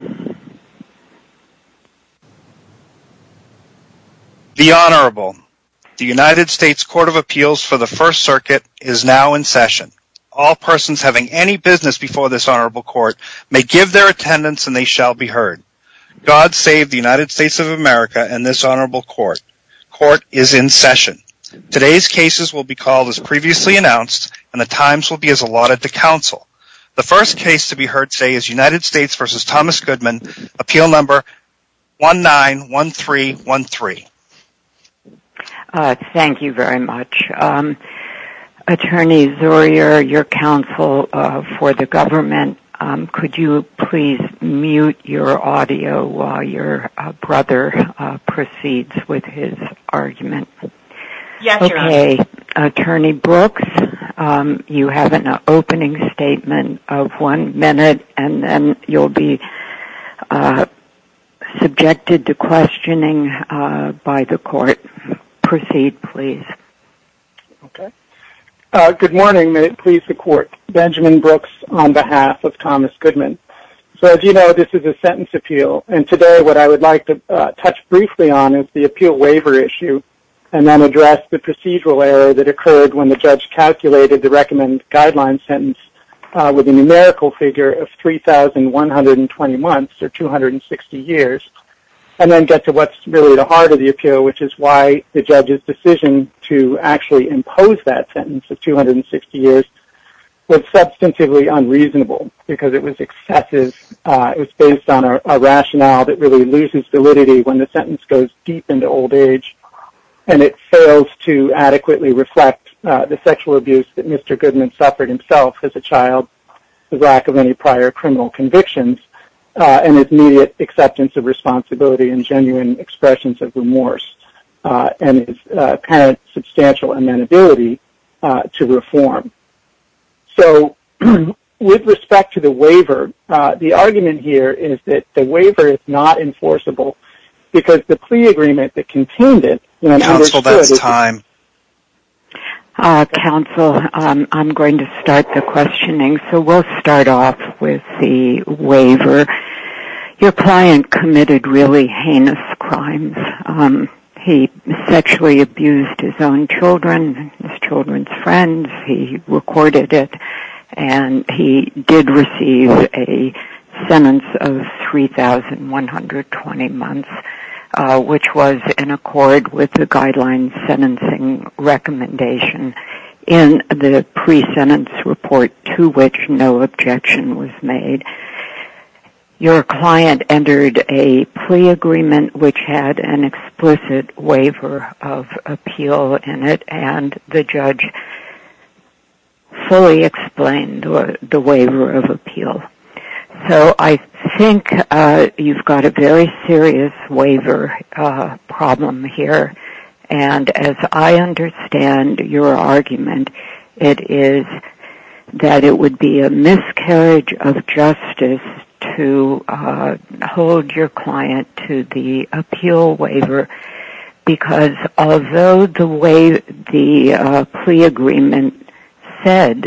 The Honorable. The United States Court of Appeals for the First Circuit is now in session. All persons having any business before this Honorable Court may give their attendance and they shall be heard. God save the United States of America and this Honorable Court. Court is in session. Today's cases will be called as previously announced and the times will be as allotted to counsel. The first case to be heard today is United States v. Thomas Goodman, appeal number 191313. Thank you very much. Attorney Zurier, your counsel for the government, could you please mute your audio while your brother proceeds with his argument? Yes, Your Honor. Okay. Attorney Brooks, you have an opening statement of one to be subjected to questioning by the court. Proceed, please. Okay. Good morning. May it please the court. Benjamin Brooks on behalf of Thomas Goodman. As you know, this is a sentence appeal and today what I would like to touch briefly on is the appeal waiver issue and then address the procedural error that occurred when the judge calculated the recommended guideline sentence with a numerical figure of 3,120 months or 260 years and then get to what's really at the heart of the appeal, which is why the judge's decision to actually impose that sentence of 260 years was substantively unreasonable because it was excessive. It was based on a rationale that really loses validity when the sentence goes deep into old age and it fails to adequately reflect the sexual abuse that Mr. Goodman suffered himself as a child, the lack of any prior criminal convictions, and his immediate acceptance of responsibility and genuine expressions of remorse and his apparent substantial amenability to reform. So with respect to the waiver, the argument here is that the waiver is not enforceable because the plea agreement that contained it, when it was understood... Counsel, that's time. Counsel, I'm going to start the questioning. So we'll start off with the waiver. Your client committed really heinous crimes. He sexually abused his own children, his children's friends, he recorded it, and he did receive a sentence of 3,120 months, which was in accord with the guideline sentencing recommendation in the pre-sentence report to which no objection was made. Your client entered a plea agreement which had an explicit waiver of appeal in it, and the judge fully explained the waiver of appeal. So I think you've got a very serious waiver problem here, and as I understand your argument, it is that it would be a miscarriage of justice to hold your client to the appeal waiver, because although the way the plea agreement said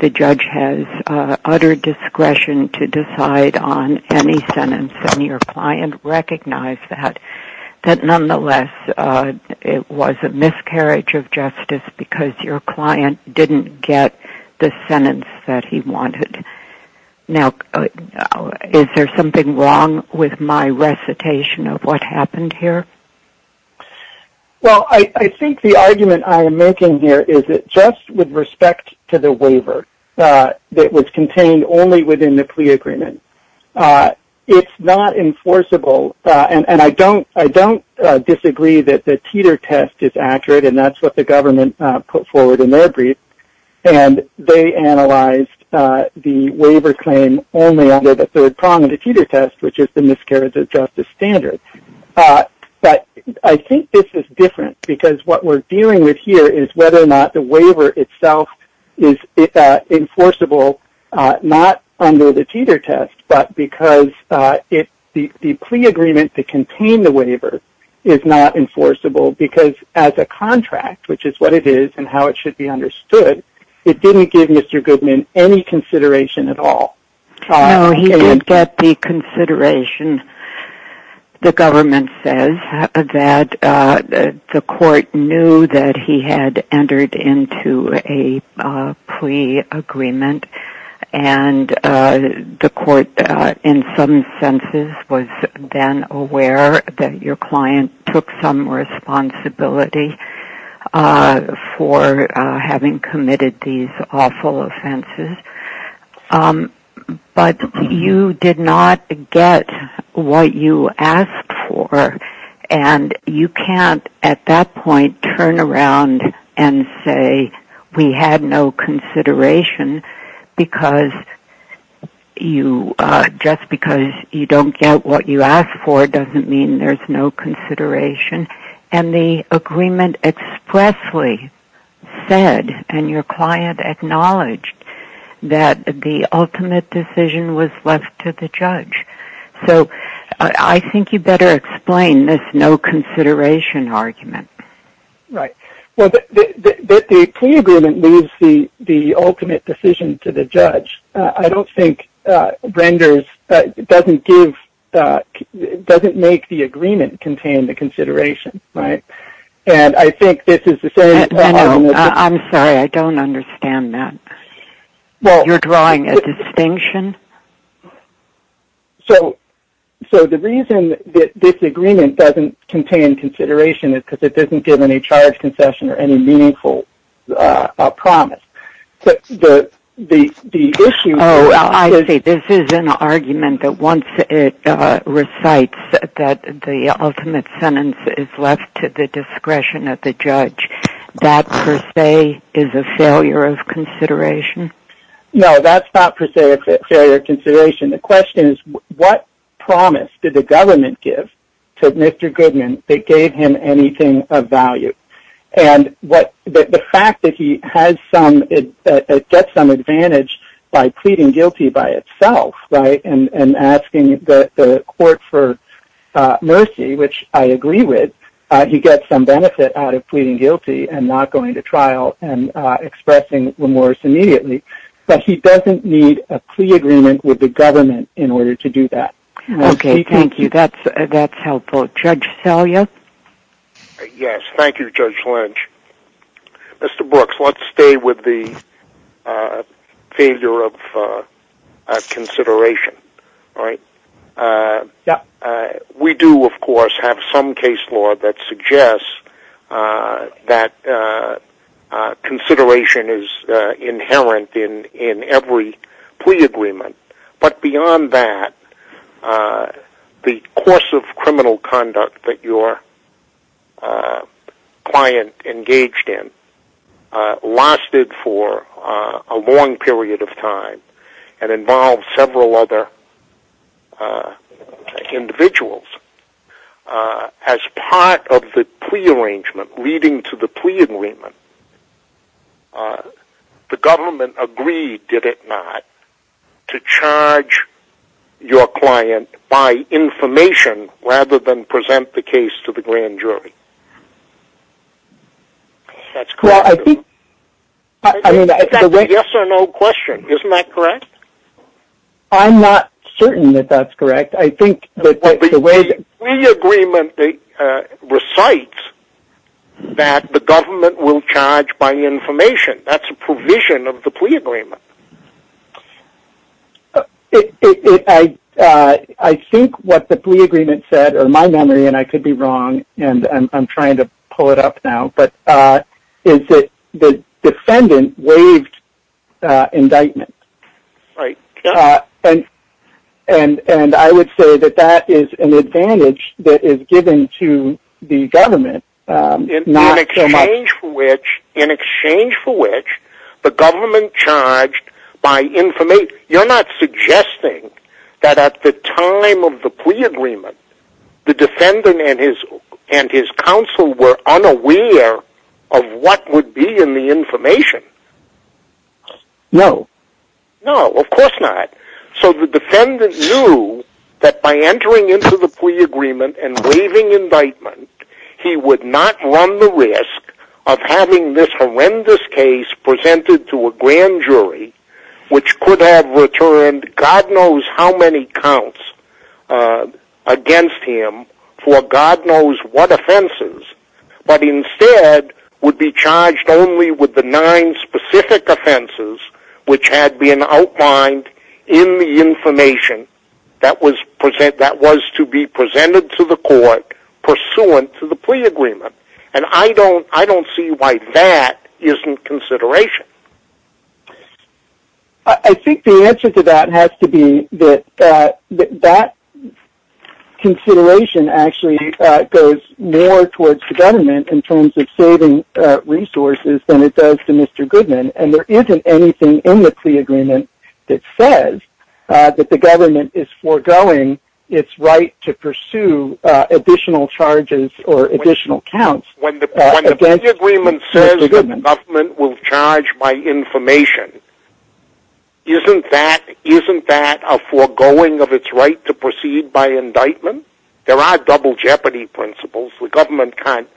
the judge has utter discretion to decide on any sentence, and your client recognized that, that nonetheless it was a miscarriage of justice because your client didn't get the sentence that he wanted. Now, is there something wrong with my recitation of what happened here? Well, I think the argument I am making here is that just with respect to the waiver that was contained only within the plea agreement, it's not enforceable, and I don't disagree that the teeter test is accurate, and that's what the government put forward in their brief, and they analyzed the waiver claim only under the third prong of the teeter test, which is the miscarriage of justice standard. But I think this is different, because what we're dealing with here is whether or not the waiver itself is enforceable, not under the teeter test, but because the plea agreement that contained the waiver is not enforceable, because as a contract, which is what it is and how it should be understood, it didn't give Mr. Goodman any consideration at all. No, he did get the consideration, the government says, that the court knew that he had entered into a plea agreement, and the court in some senses was then aware that your client took some responsibility for having committed these awful offenses, but you did not get what you had no consideration, just because you don't get what you asked for doesn't mean there's no consideration, and the agreement expressly said, and your client acknowledged, that the ultimate decision was left to the judge. So I think you better explain this no consideration argument. Right. Well, the plea agreement leaves the ultimate decision to the judge. I don't think renders, doesn't give, doesn't make the agreement contain the consideration, right? And I think this is the same problem. I'm sorry, I don't understand that. You're drawing a distinction? So the reason that this agreement doesn't contain consideration is because it doesn't give any charge concession or any meaningful promise. Oh, I see. This is an argument that once it recites that the ultimate sentence is left to the discretion of the judge, that per se is a failure of consideration? No, that's not per se a failure of consideration. The question is, what promise did the government give to Mr. Goodman that gave him anything of value? And the fact that he gets some advantage by pleading guilty by itself, right, and asking the court for mercy, which I agree with, he doesn't need a plea agreement with the government in order to do that. Okay, thank you. That's helpful. Judge Selya? Yes, thank you, Judge Lynch. Mr. Brooks, let's stay with the failure of consideration. We do, of course, have some case law that suggests that consideration is inherent in every plea agreement, but beyond that, the course of criminal conduct that your client engaged in lasted for a long period of time and involved several other individuals. As part of the plea arrangement leading to the plea agreement, the government agreed, did they? I'm not certain that that's correct. I think the way the plea agreement recites that the government will charge by information, that's a provision of the plea agreement. I think what the plea agreement said, or my memory, and I could be wrong, and I'm trying to pull it up now, but is that the defendant waived indictment. And I would say that that is an advantage that is given to the government. In exchange for which the government charged by information. You're not suggesting that at the time of the plea agreement, the defendant and his counsel were unaware of what would be in the information? No. No, of course not. So the defendant knew that by entering into the plea agreement and waiving indictment, he would not run the risk of having this horrendous case presented to a grand jury, which could have returned God knows how many counts against him for God knows what offenses, but instead would be charged only with the nine specific offenses which had been outlined in the information that was to be presented to the court pursuant to the plea agreement. And I don't see why that isn't consideration. I think the answer to that has to be that that consideration actually goes more towards the government in terms of saving resources than it does to Mr. Goodman, and there isn't anything in the plea agreement that says that the government is foregoing its right to pursue additional charges or additional counts against Mr. Goodman. When the plea agreement says that the government will charge by information, isn't that a foregoing of its right to proceed by indictment? There are double jeopardy principles. The government can't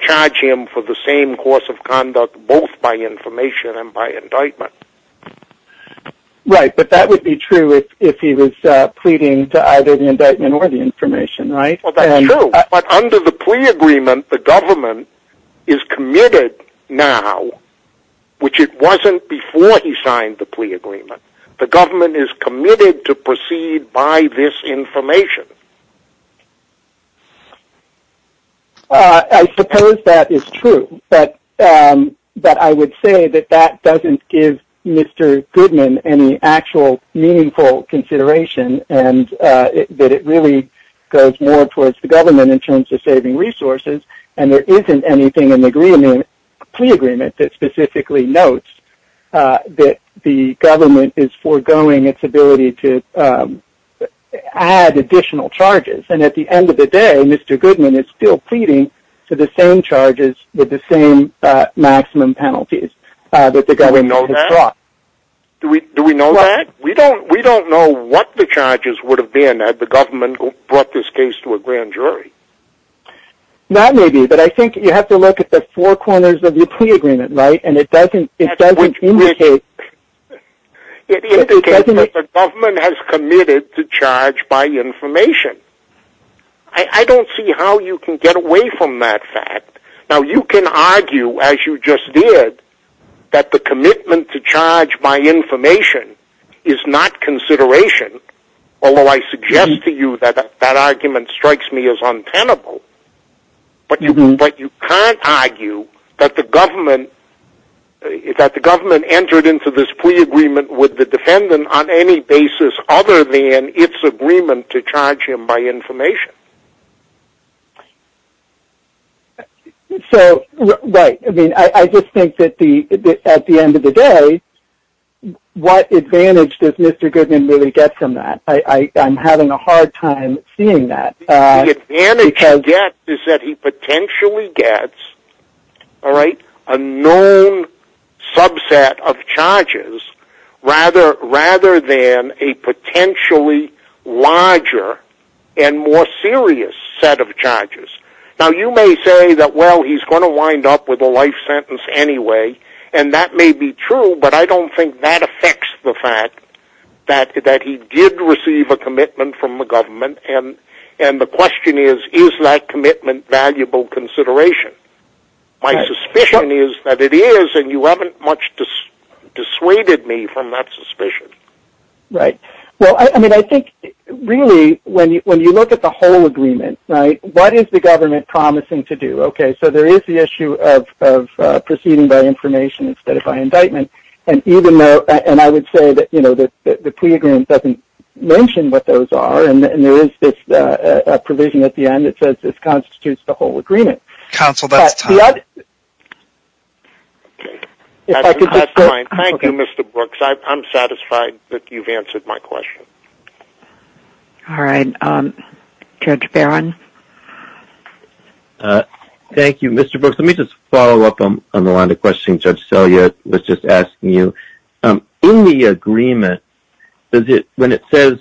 charge him for the same course of conduct, both by information and by indictment. Right, but that would be true if he was pleading to either the indictment or the information, right? Well, that's true, but under the plea agreement, the government is committed now, which it wasn't before he signed the plea agreement. The government is committed to proceed by this information. I suppose that is true, but I would say that that doesn't give Mr. Goodman any actual meaningful consideration, and that it really goes more towards the government in terms of saving resources, and there isn't anything in the plea agreement that specifically notes that the government is foregoing its ability to add additional charges, and at the end of the day, Mr. Goodman is still pleading for the same charges with the same maximum penalties that the government has brought. Do we know that? We don't know what the charges would have been had the government brought this case to a grand jury. That may be, but I think you have to look at the four corners of the plea agreement, right? And it doesn't indicate... It indicates that the government has committed to charge by information. I don't see how you can get away from that fact. Now, you can argue, as you just did, that the commitment to charge by information is not consideration, although I suggest to you that that argument strikes me as untenable, but you can't argue that the government entered into this plea agreement with the defendant on any basis other than its agreement to charge him by information. Right. I just think that at the end of the day, what advantage does Mr. Goodman really get from that? I'm having a hard time seeing that. The advantage he'll get is that he potentially gets a known subset of charges rather than a potentially larger and more serious set of charges. Now, you may say that, well, he's going to wind up with a life sentence anyway, and that may be true, but I don't think that he did receive a commitment from the government, and the question is, is that commitment valuable consideration? My suspicion is that it is, and you haven't much dissuaded me from that suspicion. Right. I think, really, when you look at the whole agreement, what is the government promising to do? Okay, so there is the issue of proceeding by information instead of by indictment, and I would say that the plea agreement doesn't mention what those are, and there is a provision at the end that says this constitutes the whole agreement. Counsel, that's time. That's fine. Thank you, Mr. Brooks. I'm satisfied that you've answered my question. All right. Judge Barron? Thank you, Mr. Brooks. Let me just follow up on the line of questioning Judge Selya was just asking you. In the agreement, when it says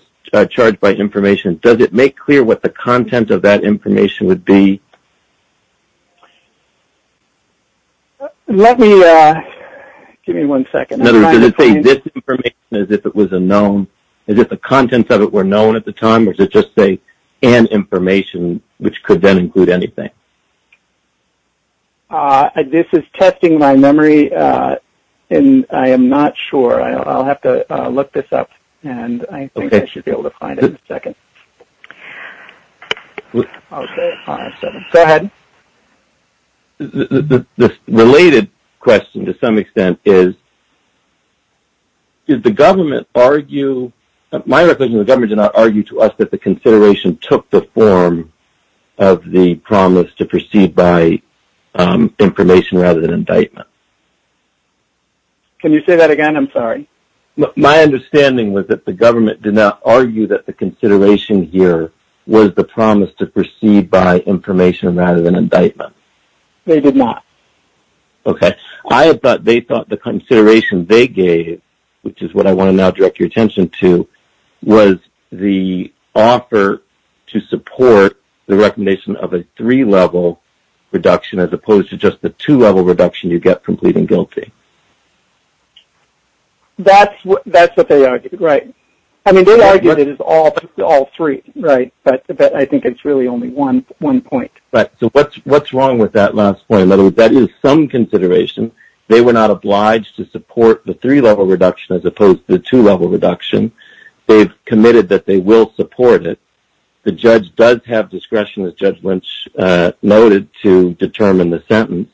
charged by information, does it make clear what the content of that information would be? Let me, give me one second. In other words, does it say this information as if it was a known, as if the contents of it were known at the time, or does it just say, and information, which could then include anything? This is testing my memory, and I am not sure. I'll have to look this up, and I think I should be able to find it in a second. Go ahead. The related question, to some extent, is, did the government argue, my recollection, the government did not argue to us that the consideration took the form of the promise to proceed by information rather than indictment. Can you say that again? I'm sorry. My understanding was that the government did not argue that the consideration here was the promise to proceed by information rather than indictment. They did not. Okay. I thought they thought the consideration they gave, which is what I want to now direct your attention to, was the offer to support the recommendation of a three-level reduction as opposed to just the two-level reduction you get from pleading guilty. That's what they argued, right. I mean, they argued it is all three, right, but I think it's really only one point. Right. So, what's wrong with that last point? In other words, that is some consideration. They were not obliged to support the three-level reduction as opposed to the two-level reduction. They've committed that they will support it. The judge does have discretion, as Judge Lynch noted, to determine the sentence.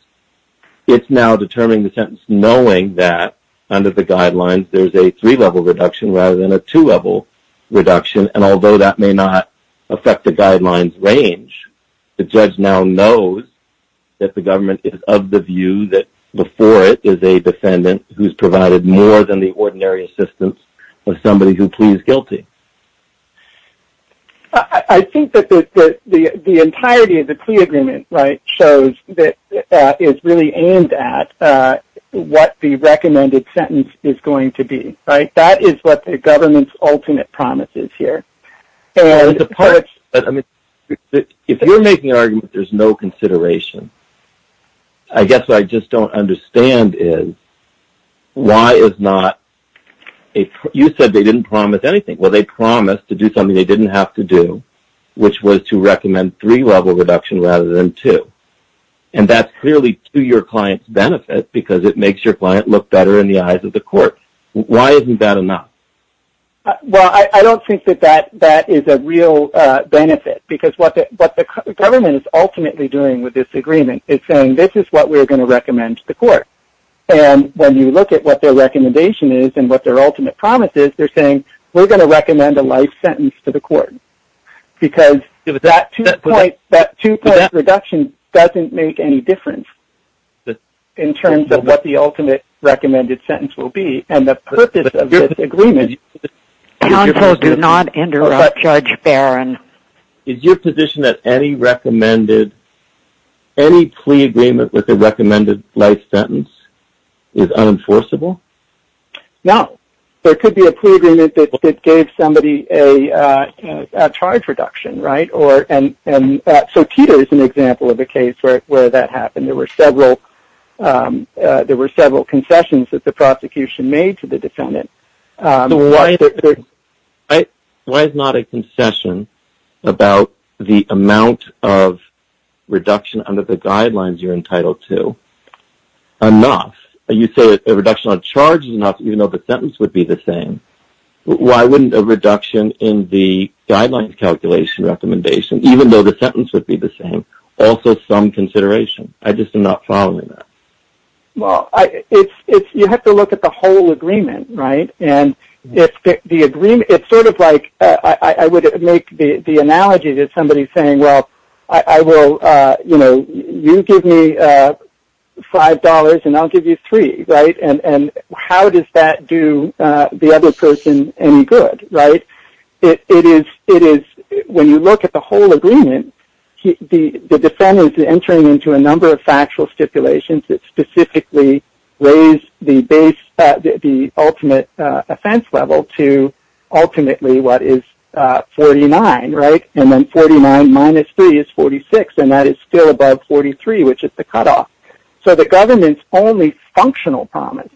It's now determining the sentence knowing that under the guidelines there's a three-level reduction rather than a two-level reduction, and although that may not affect the guidelines range, the judge now knows that the government is of the view that before it is a defendant who's provided more than the ordinary assistance of somebody who pleads guilty. I think that the entirety of the plea agreement, right, shows that it's really aimed at what the recommended sentence is going to be, right. That is what the government's ultimate promise is here. If you're making an argument that there's no consideration, I guess what I just don't understand is why is not a – you said they didn't promise anything. Well, they promised to do something they didn't have to do, which was to recommend three-level reduction rather than two, and that's clearly to your client's benefit because it makes your client look better in the eyes of the court. Why isn't that enough? Well, I don't think that that is a real benefit because what the government is ultimately doing with this agreement is saying this is what we're going to recommend to the court, and when you look at what their recommendation is and what their ultimate promise is, they're saying we're going to recommend a life sentence to the court because that two-point reduction doesn't make any difference in terms of what the ultimate recommended sentence will be and the purpose of this agreement. Counsel, do not interrupt Judge Barron. Is your position that any plea agreement with a recommended life sentence is unenforceable? No. There could be a plea agreement that gave somebody a charge reduction, right? So Peter is an example of a case where that happened. There were several concessions that the prosecution made to the defendant. Why is not a concession about the amount of reduction under the guidelines you're entitled to enough? You say a reduction on charge is enough even though the sentence would be the same. Why wouldn't a reduction in the guidelines calculation recommendation, even though the sentence would be the same, also some consideration? I just am not following that. Well, you have to look at the whole agreement, right? It's sort of like I would make the analogy that somebody is saying, well, you give me $5 and I'll give you $3, right? And how does that do the other person any good, right? When you look at the whole agreement, the defendant is entering into a number of factual stipulations that specifically raise the ultimate offense level to ultimately what is 49, right? And then 49 minus 3 is 46, and that is still above 43, which is the cutoff. So the government's only functional promise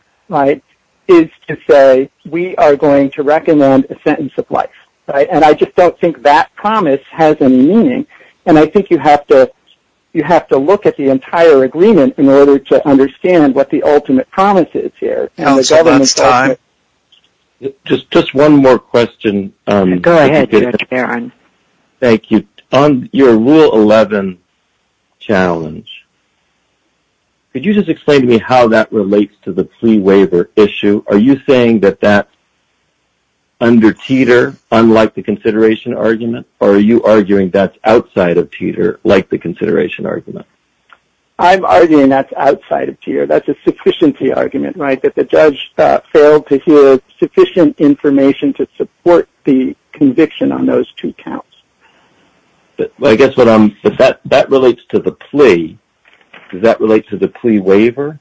is to say we are going to recommend a sentence of life, right? And I just don't think that works. And I think you have to look at the entire agreement in order to understand what the ultimate promise is here. Just one more question. Go ahead, Mr. Barron. Thank you. On your Rule 11 challenge, could you just explain to me how that relates to the pre-waiver issue? Are you saying that that's under teeter, unlike the consideration argument, or are you arguing that's outside of teeter, like the consideration argument? I'm arguing that's outside of teeter. That's a sufficiency argument, right? That the judge failed to hear sufficient information to support the conviction on those two counts. But I guess that relates to the plea. Does that relate to the plea waiver?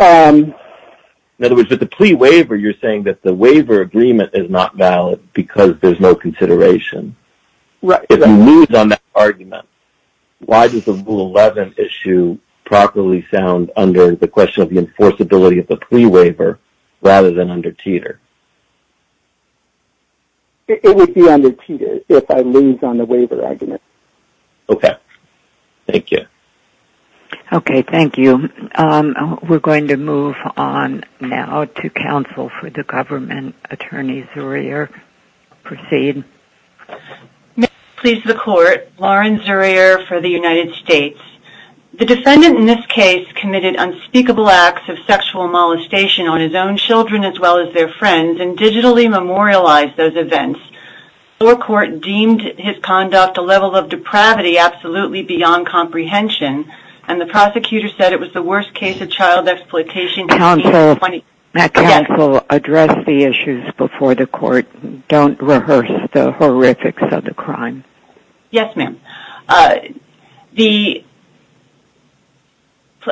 In other words, with the plea waiver, you're saying that the waiver agreement is not valid because there's no consideration. If you lose on that argument, why does the Rule 11 issue properly sound under the question of the enforceability of the plea waiver rather than under teeter? It would be under teeter if I lose on the waiver argument. Okay. Thank you. Okay. Thank you. We're going to move on now to counsel for the government. Attorney Zurier, proceed. May it please the Court, Lauren Zurier for the United States. The defendant in this case committed unspeakable acts of sexual molestation on his own children as well as their friends and digitally memorialized those events. The court deemed his conduct a level of depravity absolutely beyond comprehension, and the prosecutor said it was the worst case of child exploitation since 1820. Counsel. Yes. Counsel, address the issues before the court. Don't rehearse the horrifics of the crime. Yes, ma'am. The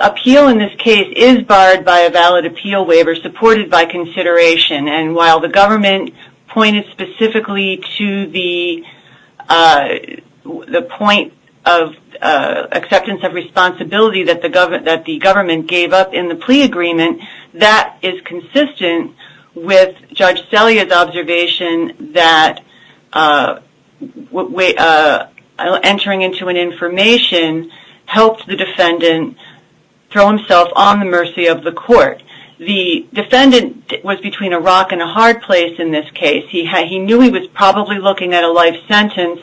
appeal in this case is barred by a valid appeal waiver supported by consideration, and while the government pointed specifically to the point of acceptance of responsibility that the government gave up in the plea agreement, that is consistent with Judge Selya's observation that entering into an information helped the defendant throw himself on the mercy of the Rock in a hard place in this case. He knew he was probably looking at a life sentence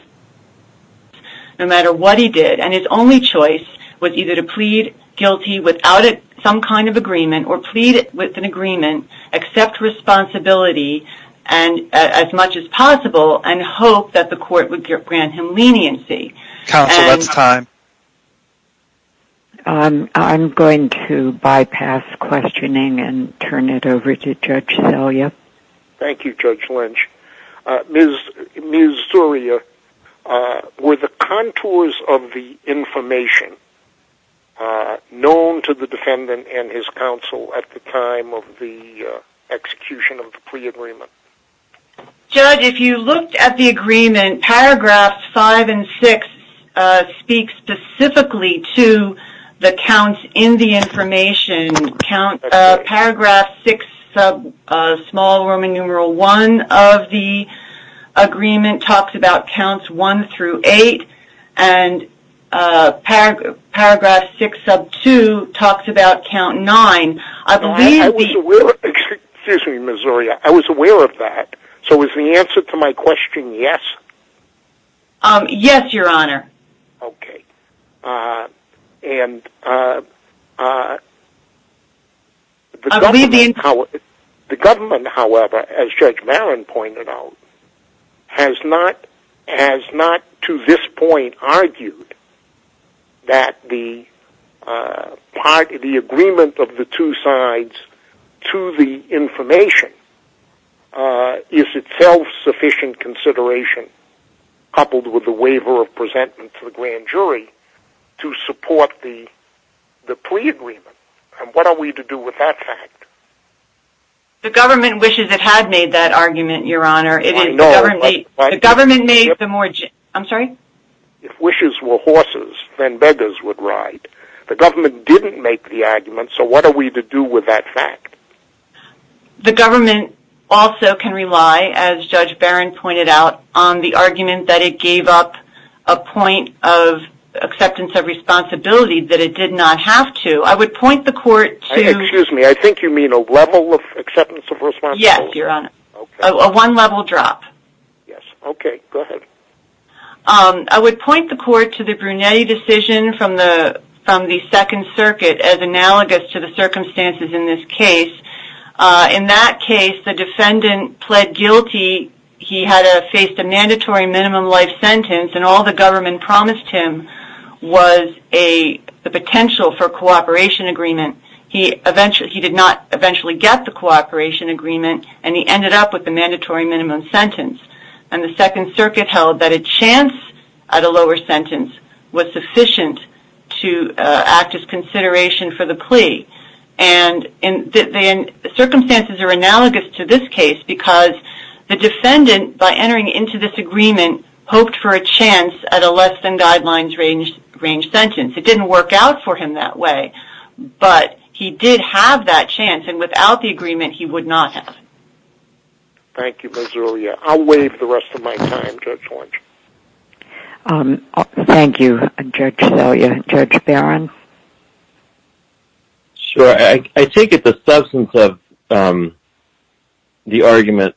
no matter what he did, and his only choice was either to plead guilty without some kind of agreement or plead with an agreement, accept responsibility as much as possible, and hope that the court would grant him leniency. Counsel, that's time. I'm going to bypass questioning and turn it over to Judge Selya. Thank you, Judge Lynch. Ms. Zuria, were the contours of the information known to the defendant and his counsel at the time of the execution of the plea agreement? Judge, if you looked at the agreement, paragraphs 5 and 6 speak specifically to the counts in the information. Paragraph 6, small Roman numeral 1 of the agreement talks about counts 1 through 8, and paragraph 6 sub 2 talks about count 9. Excuse me, Ms. Zuria. I was aware of that. So is the answer to my question yes? Yes, Your Honor. The government, however, as Judge Barron pointed out, has not to this point argued that the agreement of the two sides to the information is itself sufficient consideration, coupled with the waiver of presentment to the grand jury, to support the plea agreement. And what are we to do with that fact? The government wishes it had made that argument, Your Honor. I know, but... The government made the more... I'm sorry? If wishes were horses, then beggars would ride. The government didn't make the argument, so what are we to do with that fact? The government also can rely, as Judge Barron pointed out, on the argument that it gave up a point of acceptance of responsibility that it did not have to. I would point the court to... Excuse me, I think you mean a level of acceptance of responsibility. Yes, Your Honor. A one-level drop. Yes, okay. Go ahead. I would point the court to the Brunetti decision from the Second Circuit, as analogous to the circumstances in this case. In that case, the defendant pled guilty. He had faced a mandatory minimum life sentence, and all the government promised him was the potential for a cooperation agreement. He did not eventually get the cooperation agreement, and he ended up with the mandatory minimum sentence. And the Second Circuit held that a chance at a lower sentence was sufficient to act as consideration for the plea. And the circumstances are analogous to this case, because the defendant, by entering into this agreement, hoped for a chance at a less-than-guidelines-range sentence. It didn't work out for him that way, but he did have that chance, and without the agreement, he would not have. Thank you, Ms. Aurelia. I'll wait for the rest of my time, Judge Orange. Thank you, Judge Aurelia. Judge Barron? Sure. I take it the substance of the argument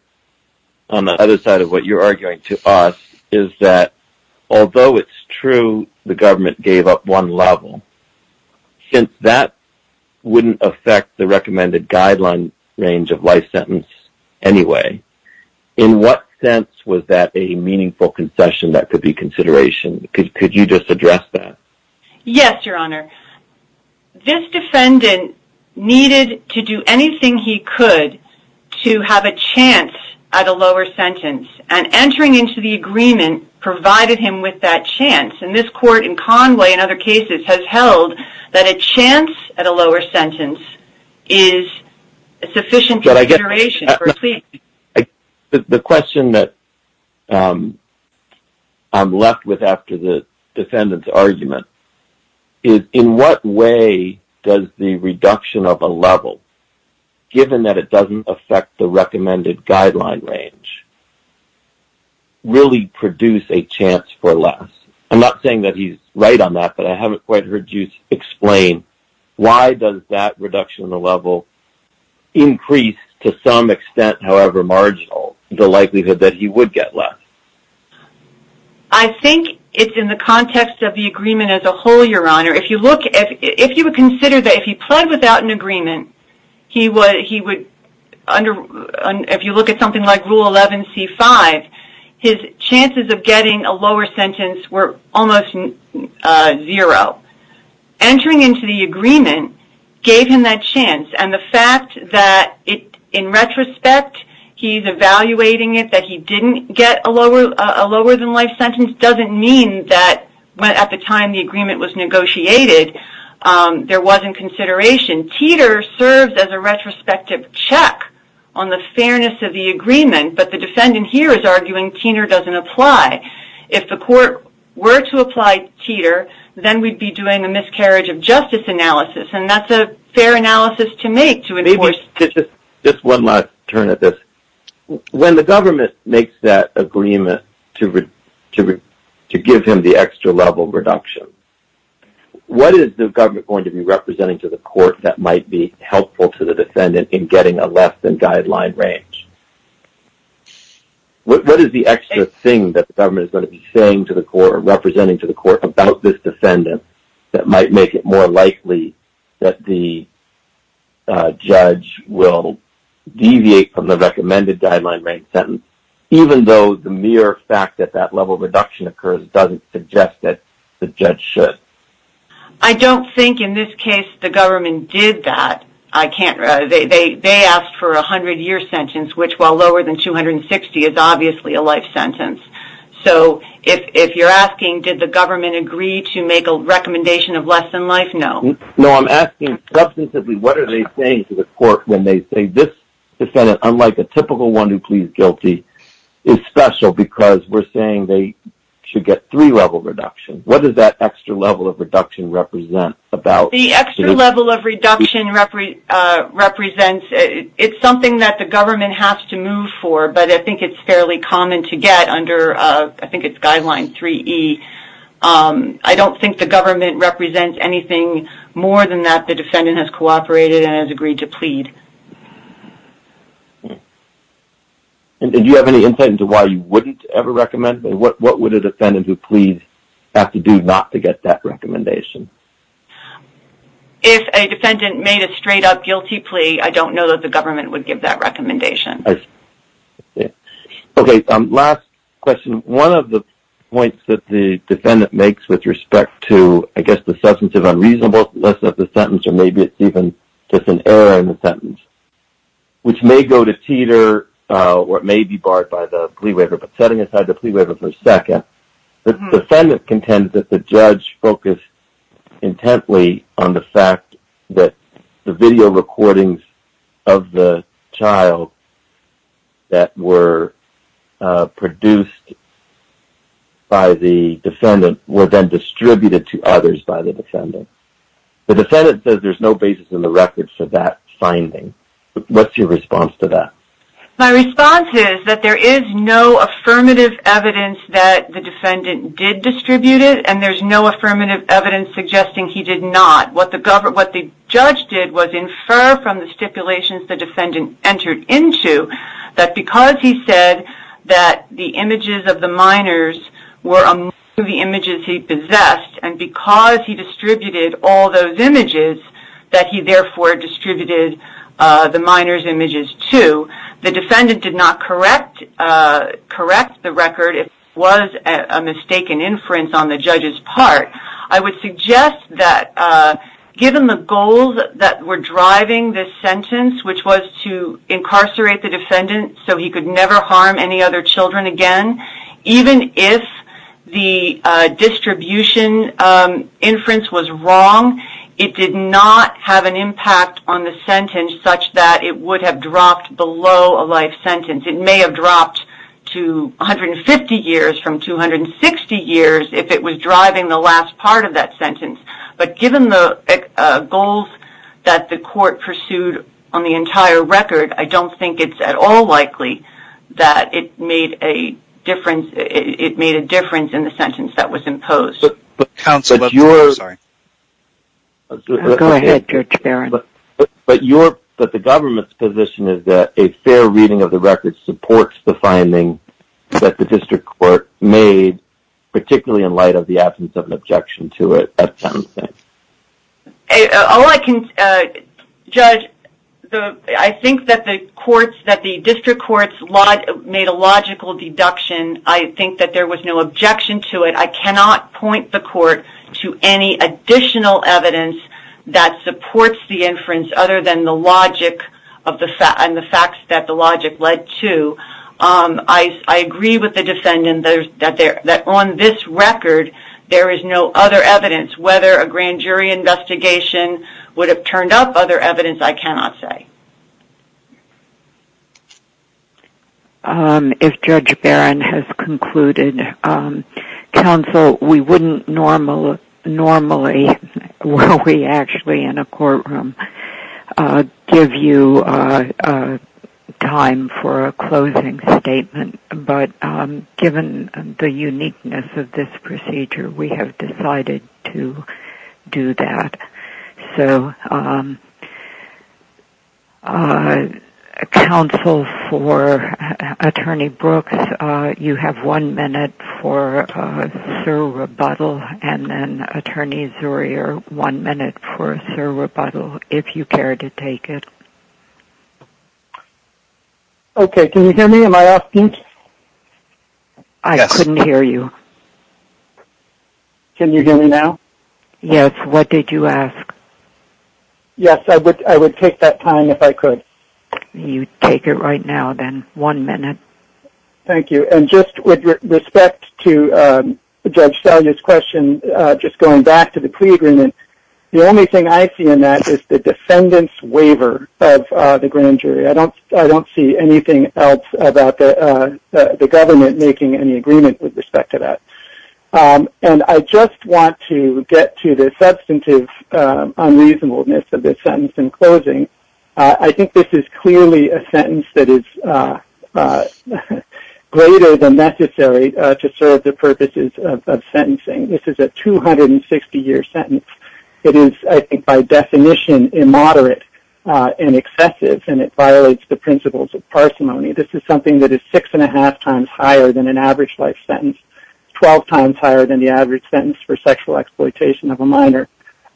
on the other side of what you're arguing to us is that, although it's true the government gave up one level, since that wouldn't affect the recommended guideline range of life sentence anyway, in what sense was that a meaningful concession that could be consideration? Could you just address that? Yes, Your Honor. This defendant needed to do anything he could to have a chance at a lower sentence, and entering into the agreement provided him with that chance. This Court, in Conway and other cases, has held that a chance at a lower sentence is sufficient consideration for a plea. The question that I'm left with after the defendant's argument is, in what way does the reduction of a level, given that it doesn't affect the recommended guideline range, really produce a chance for less? I'm not saying that he's right on that, but I haven't quite heard you explain why does that reduction of the level increase to some extent, however marginal, the likelihood that he would get less? I think it's in the context of the agreement as a whole, Your Honor. If you look at something like Rule 11c-5, his chances of getting a lower sentence were almost zero. Entering into the agreement gave him that chance, and the fact that in retrospect he's evaluating it, that he didn't get a lower-than-life sentence, doesn't mean that at the time the agreement was negotiated there wasn't consideration. Teeter serves as a retrospective check on the fairness of the agreement, but the defendant here is arguing Teeter doesn't apply. If the court were to apply Teeter, then we'd be doing a miscarriage-of-justice analysis, and that's a fair analysis to make. Just one last turn at this. When the government makes that agreement to give him the extra-level reduction, what is the government going to be representing to the court that might be helpful to the defendant in getting a less-than-guideline range? What is the extra thing that the government is going to be saying to the court or representing to the court about this defendant that might make it more likely that the judge will deviate from the recommended guideline range sentence, even though the mere fact that that level reduction occurs doesn't suggest that the judge should? I don't think, in this case, the government did that. They asked for a 100-year sentence, which, while lower than 260, is obviously a life sentence. So, if you're asking, did the government agree to make a recommendation of less-than-life, no. No, I'm asking, substantively, what are they saying to the court when they say, this defendant, unlike a typical one who pleads guilty, is special because we're saying they should get three-level reduction. What does that extra-level of reduction represent? The extra-level of reduction represents, it's something that the government has to move for, but I think it's fairly common to get under, I think it's guideline 3E. I don't think the government represents anything more than that the defendant has cooperated and has agreed to plead. Do you have any insight into why you wouldn't ever recommend? What would a defendant who pleads have to do not to get that recommendation? If a defendant made a straight-up guilty plea, I don't know that the government would give that recommendation. Okay, last question. One of the points that the defendant makes with respect to, I guess, the substantive unreasonableness of the sentence, or maybe it's even just an error in the sentence, which may go to teeter or it may be barred by the plea waiver, but setting aside the plea waiver for a second, the defendant contends that the judge focused intently on the fact that the video recordings of the child that were produced by the defendant were then distributed to others by the defendant. The defendant says there's no basis in the record for that finding. What's your response to that? My response is that there is no affirmative evidence that the defendant did distribute it, and there's no affirmative evidence suggesting he did not. What the judge did was infer from the stipulations the defendant entered into that because he said that the images of the minors were among the images he possessed, and because he distributed all those images that he therefore distributed the minors' images to, the defendant did not correct the record. It was a mistaken inference on the judge's part. I would suggest that given the goals that were driving this sentence, which was to incarcerate the defendant so he could never harm any other children again, even if the distribution inference was wrong, it did not have an impact on the sentence such that it would have dropped below a life sentence. It may have dropped to 150 years from 260 years if it was driving the last part of that sentence, but given the goals that the court pursued on the entire record, I don't think it's at all likely that it made a difference in the sentence that was imposed. Go ahead, Judge Barron. But the government's position is that a fair reading of the record supports the finding that the district court made, particularly in light of the absence of an objection to it at sentencing. Judge, I think that the district courts made a logical deduction. I think that there was no objection to it. I cannot point the court to any additional evidence that supports the inference other than the logic and the facts that the logic led to. I agree with the defendant that on this record there is no other evidence. Whether a grand jury investigation would have turned up, other evidence I cannot say. If Judge Barron has concluded, counsel, we wouldn't normally, were we actually in a courtroom, give you time for a closing statement. But given the uniqueness of this procedure, we have decided to do that. Counsel, for Attorney Brooks, you have one minute for a thorough rebuttal, and then Attorney Zurier, one minute for a thorough rebuttal, if you care to take it. Okay. Can you hear me? Am I off-pitch? I couldn't hear you. Can you hear me now? Yes. What did you ask? Yes. I would take that time if I could. You take it right now, then. One minute. Thank you. And just with respect to Judge Salyer's question, just going back to the plea agreement, the only thing I see in that is the defendant's waiver of the grand jury. I don't see anything else about the government making any agreement with respect to that. And I just want to get to the substantive unreasonableness of this sentence in closing. I think this is clearly a sentence that is greater than necessary to serve the purposes of sentencing. This is a 260-year sentence. It is, I think, by definition, immoderate and excessive, and it violates the principles of parsimony. This is something that is six-and-a-half times higher than an average life sentence, 12 times higher than the average sentence for sexual exploitation of a minor,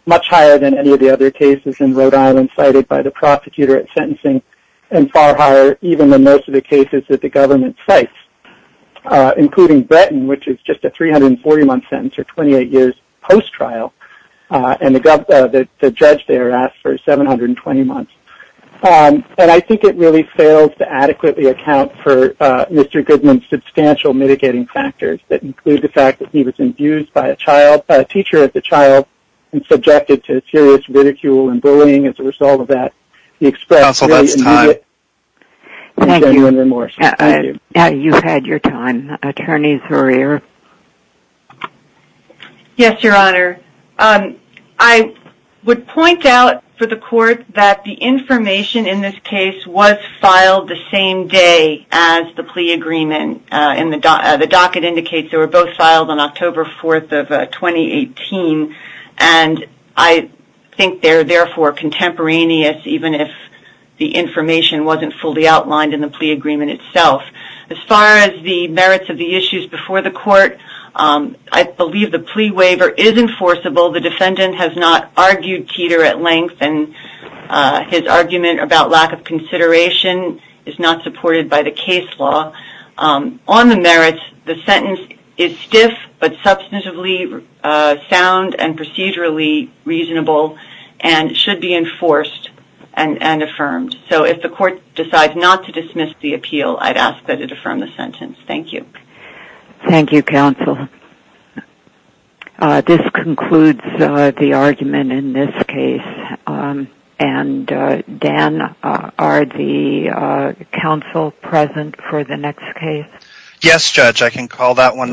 much higher than any of the other cases in Rhode Island cited by the prosecutor at sentencing, and far higher even than most of the cases that the government cites, including Bretton, which is just a 340-month sentence or 28 years post-trial, and the judge there asked for 720 months. And I think it really fails to adequately account for Mr. Goodman's substantial mitigating factors that include the fact that he was abused by a teacher as a child and subjected to serious ridicule and bullying as a result of that. He expressed great anger and remorse. Thank you. You've had your time. Attorney Zarriere. Yes, Your Honor. I would point out for the Court that the information in this case was filed the same day as the plea agreement. The docket indicates they were both filed on October 4th of 2018, and I think they're therefore contemporaneous even if the information wasn't fully outlined in the plea agreement itself. As far as the merits of the issues before the Court, I believe the plea waiver is enforceable. The defendant has not argued Teeter at length, and his argument about lack of consideration is not supported by the case law. On the merits, the sentence is stiff but substantively sound and procedurally reasonable and should be enforced and affirmed. So if the Court decides not to dismiss the appeal, I'd ask that it affirm the sentence. Thank you. Thank you, Counsel. This concludes the argument in this case. Dan, are the counsel present for the next case? Yes, Judge. I can call that one now.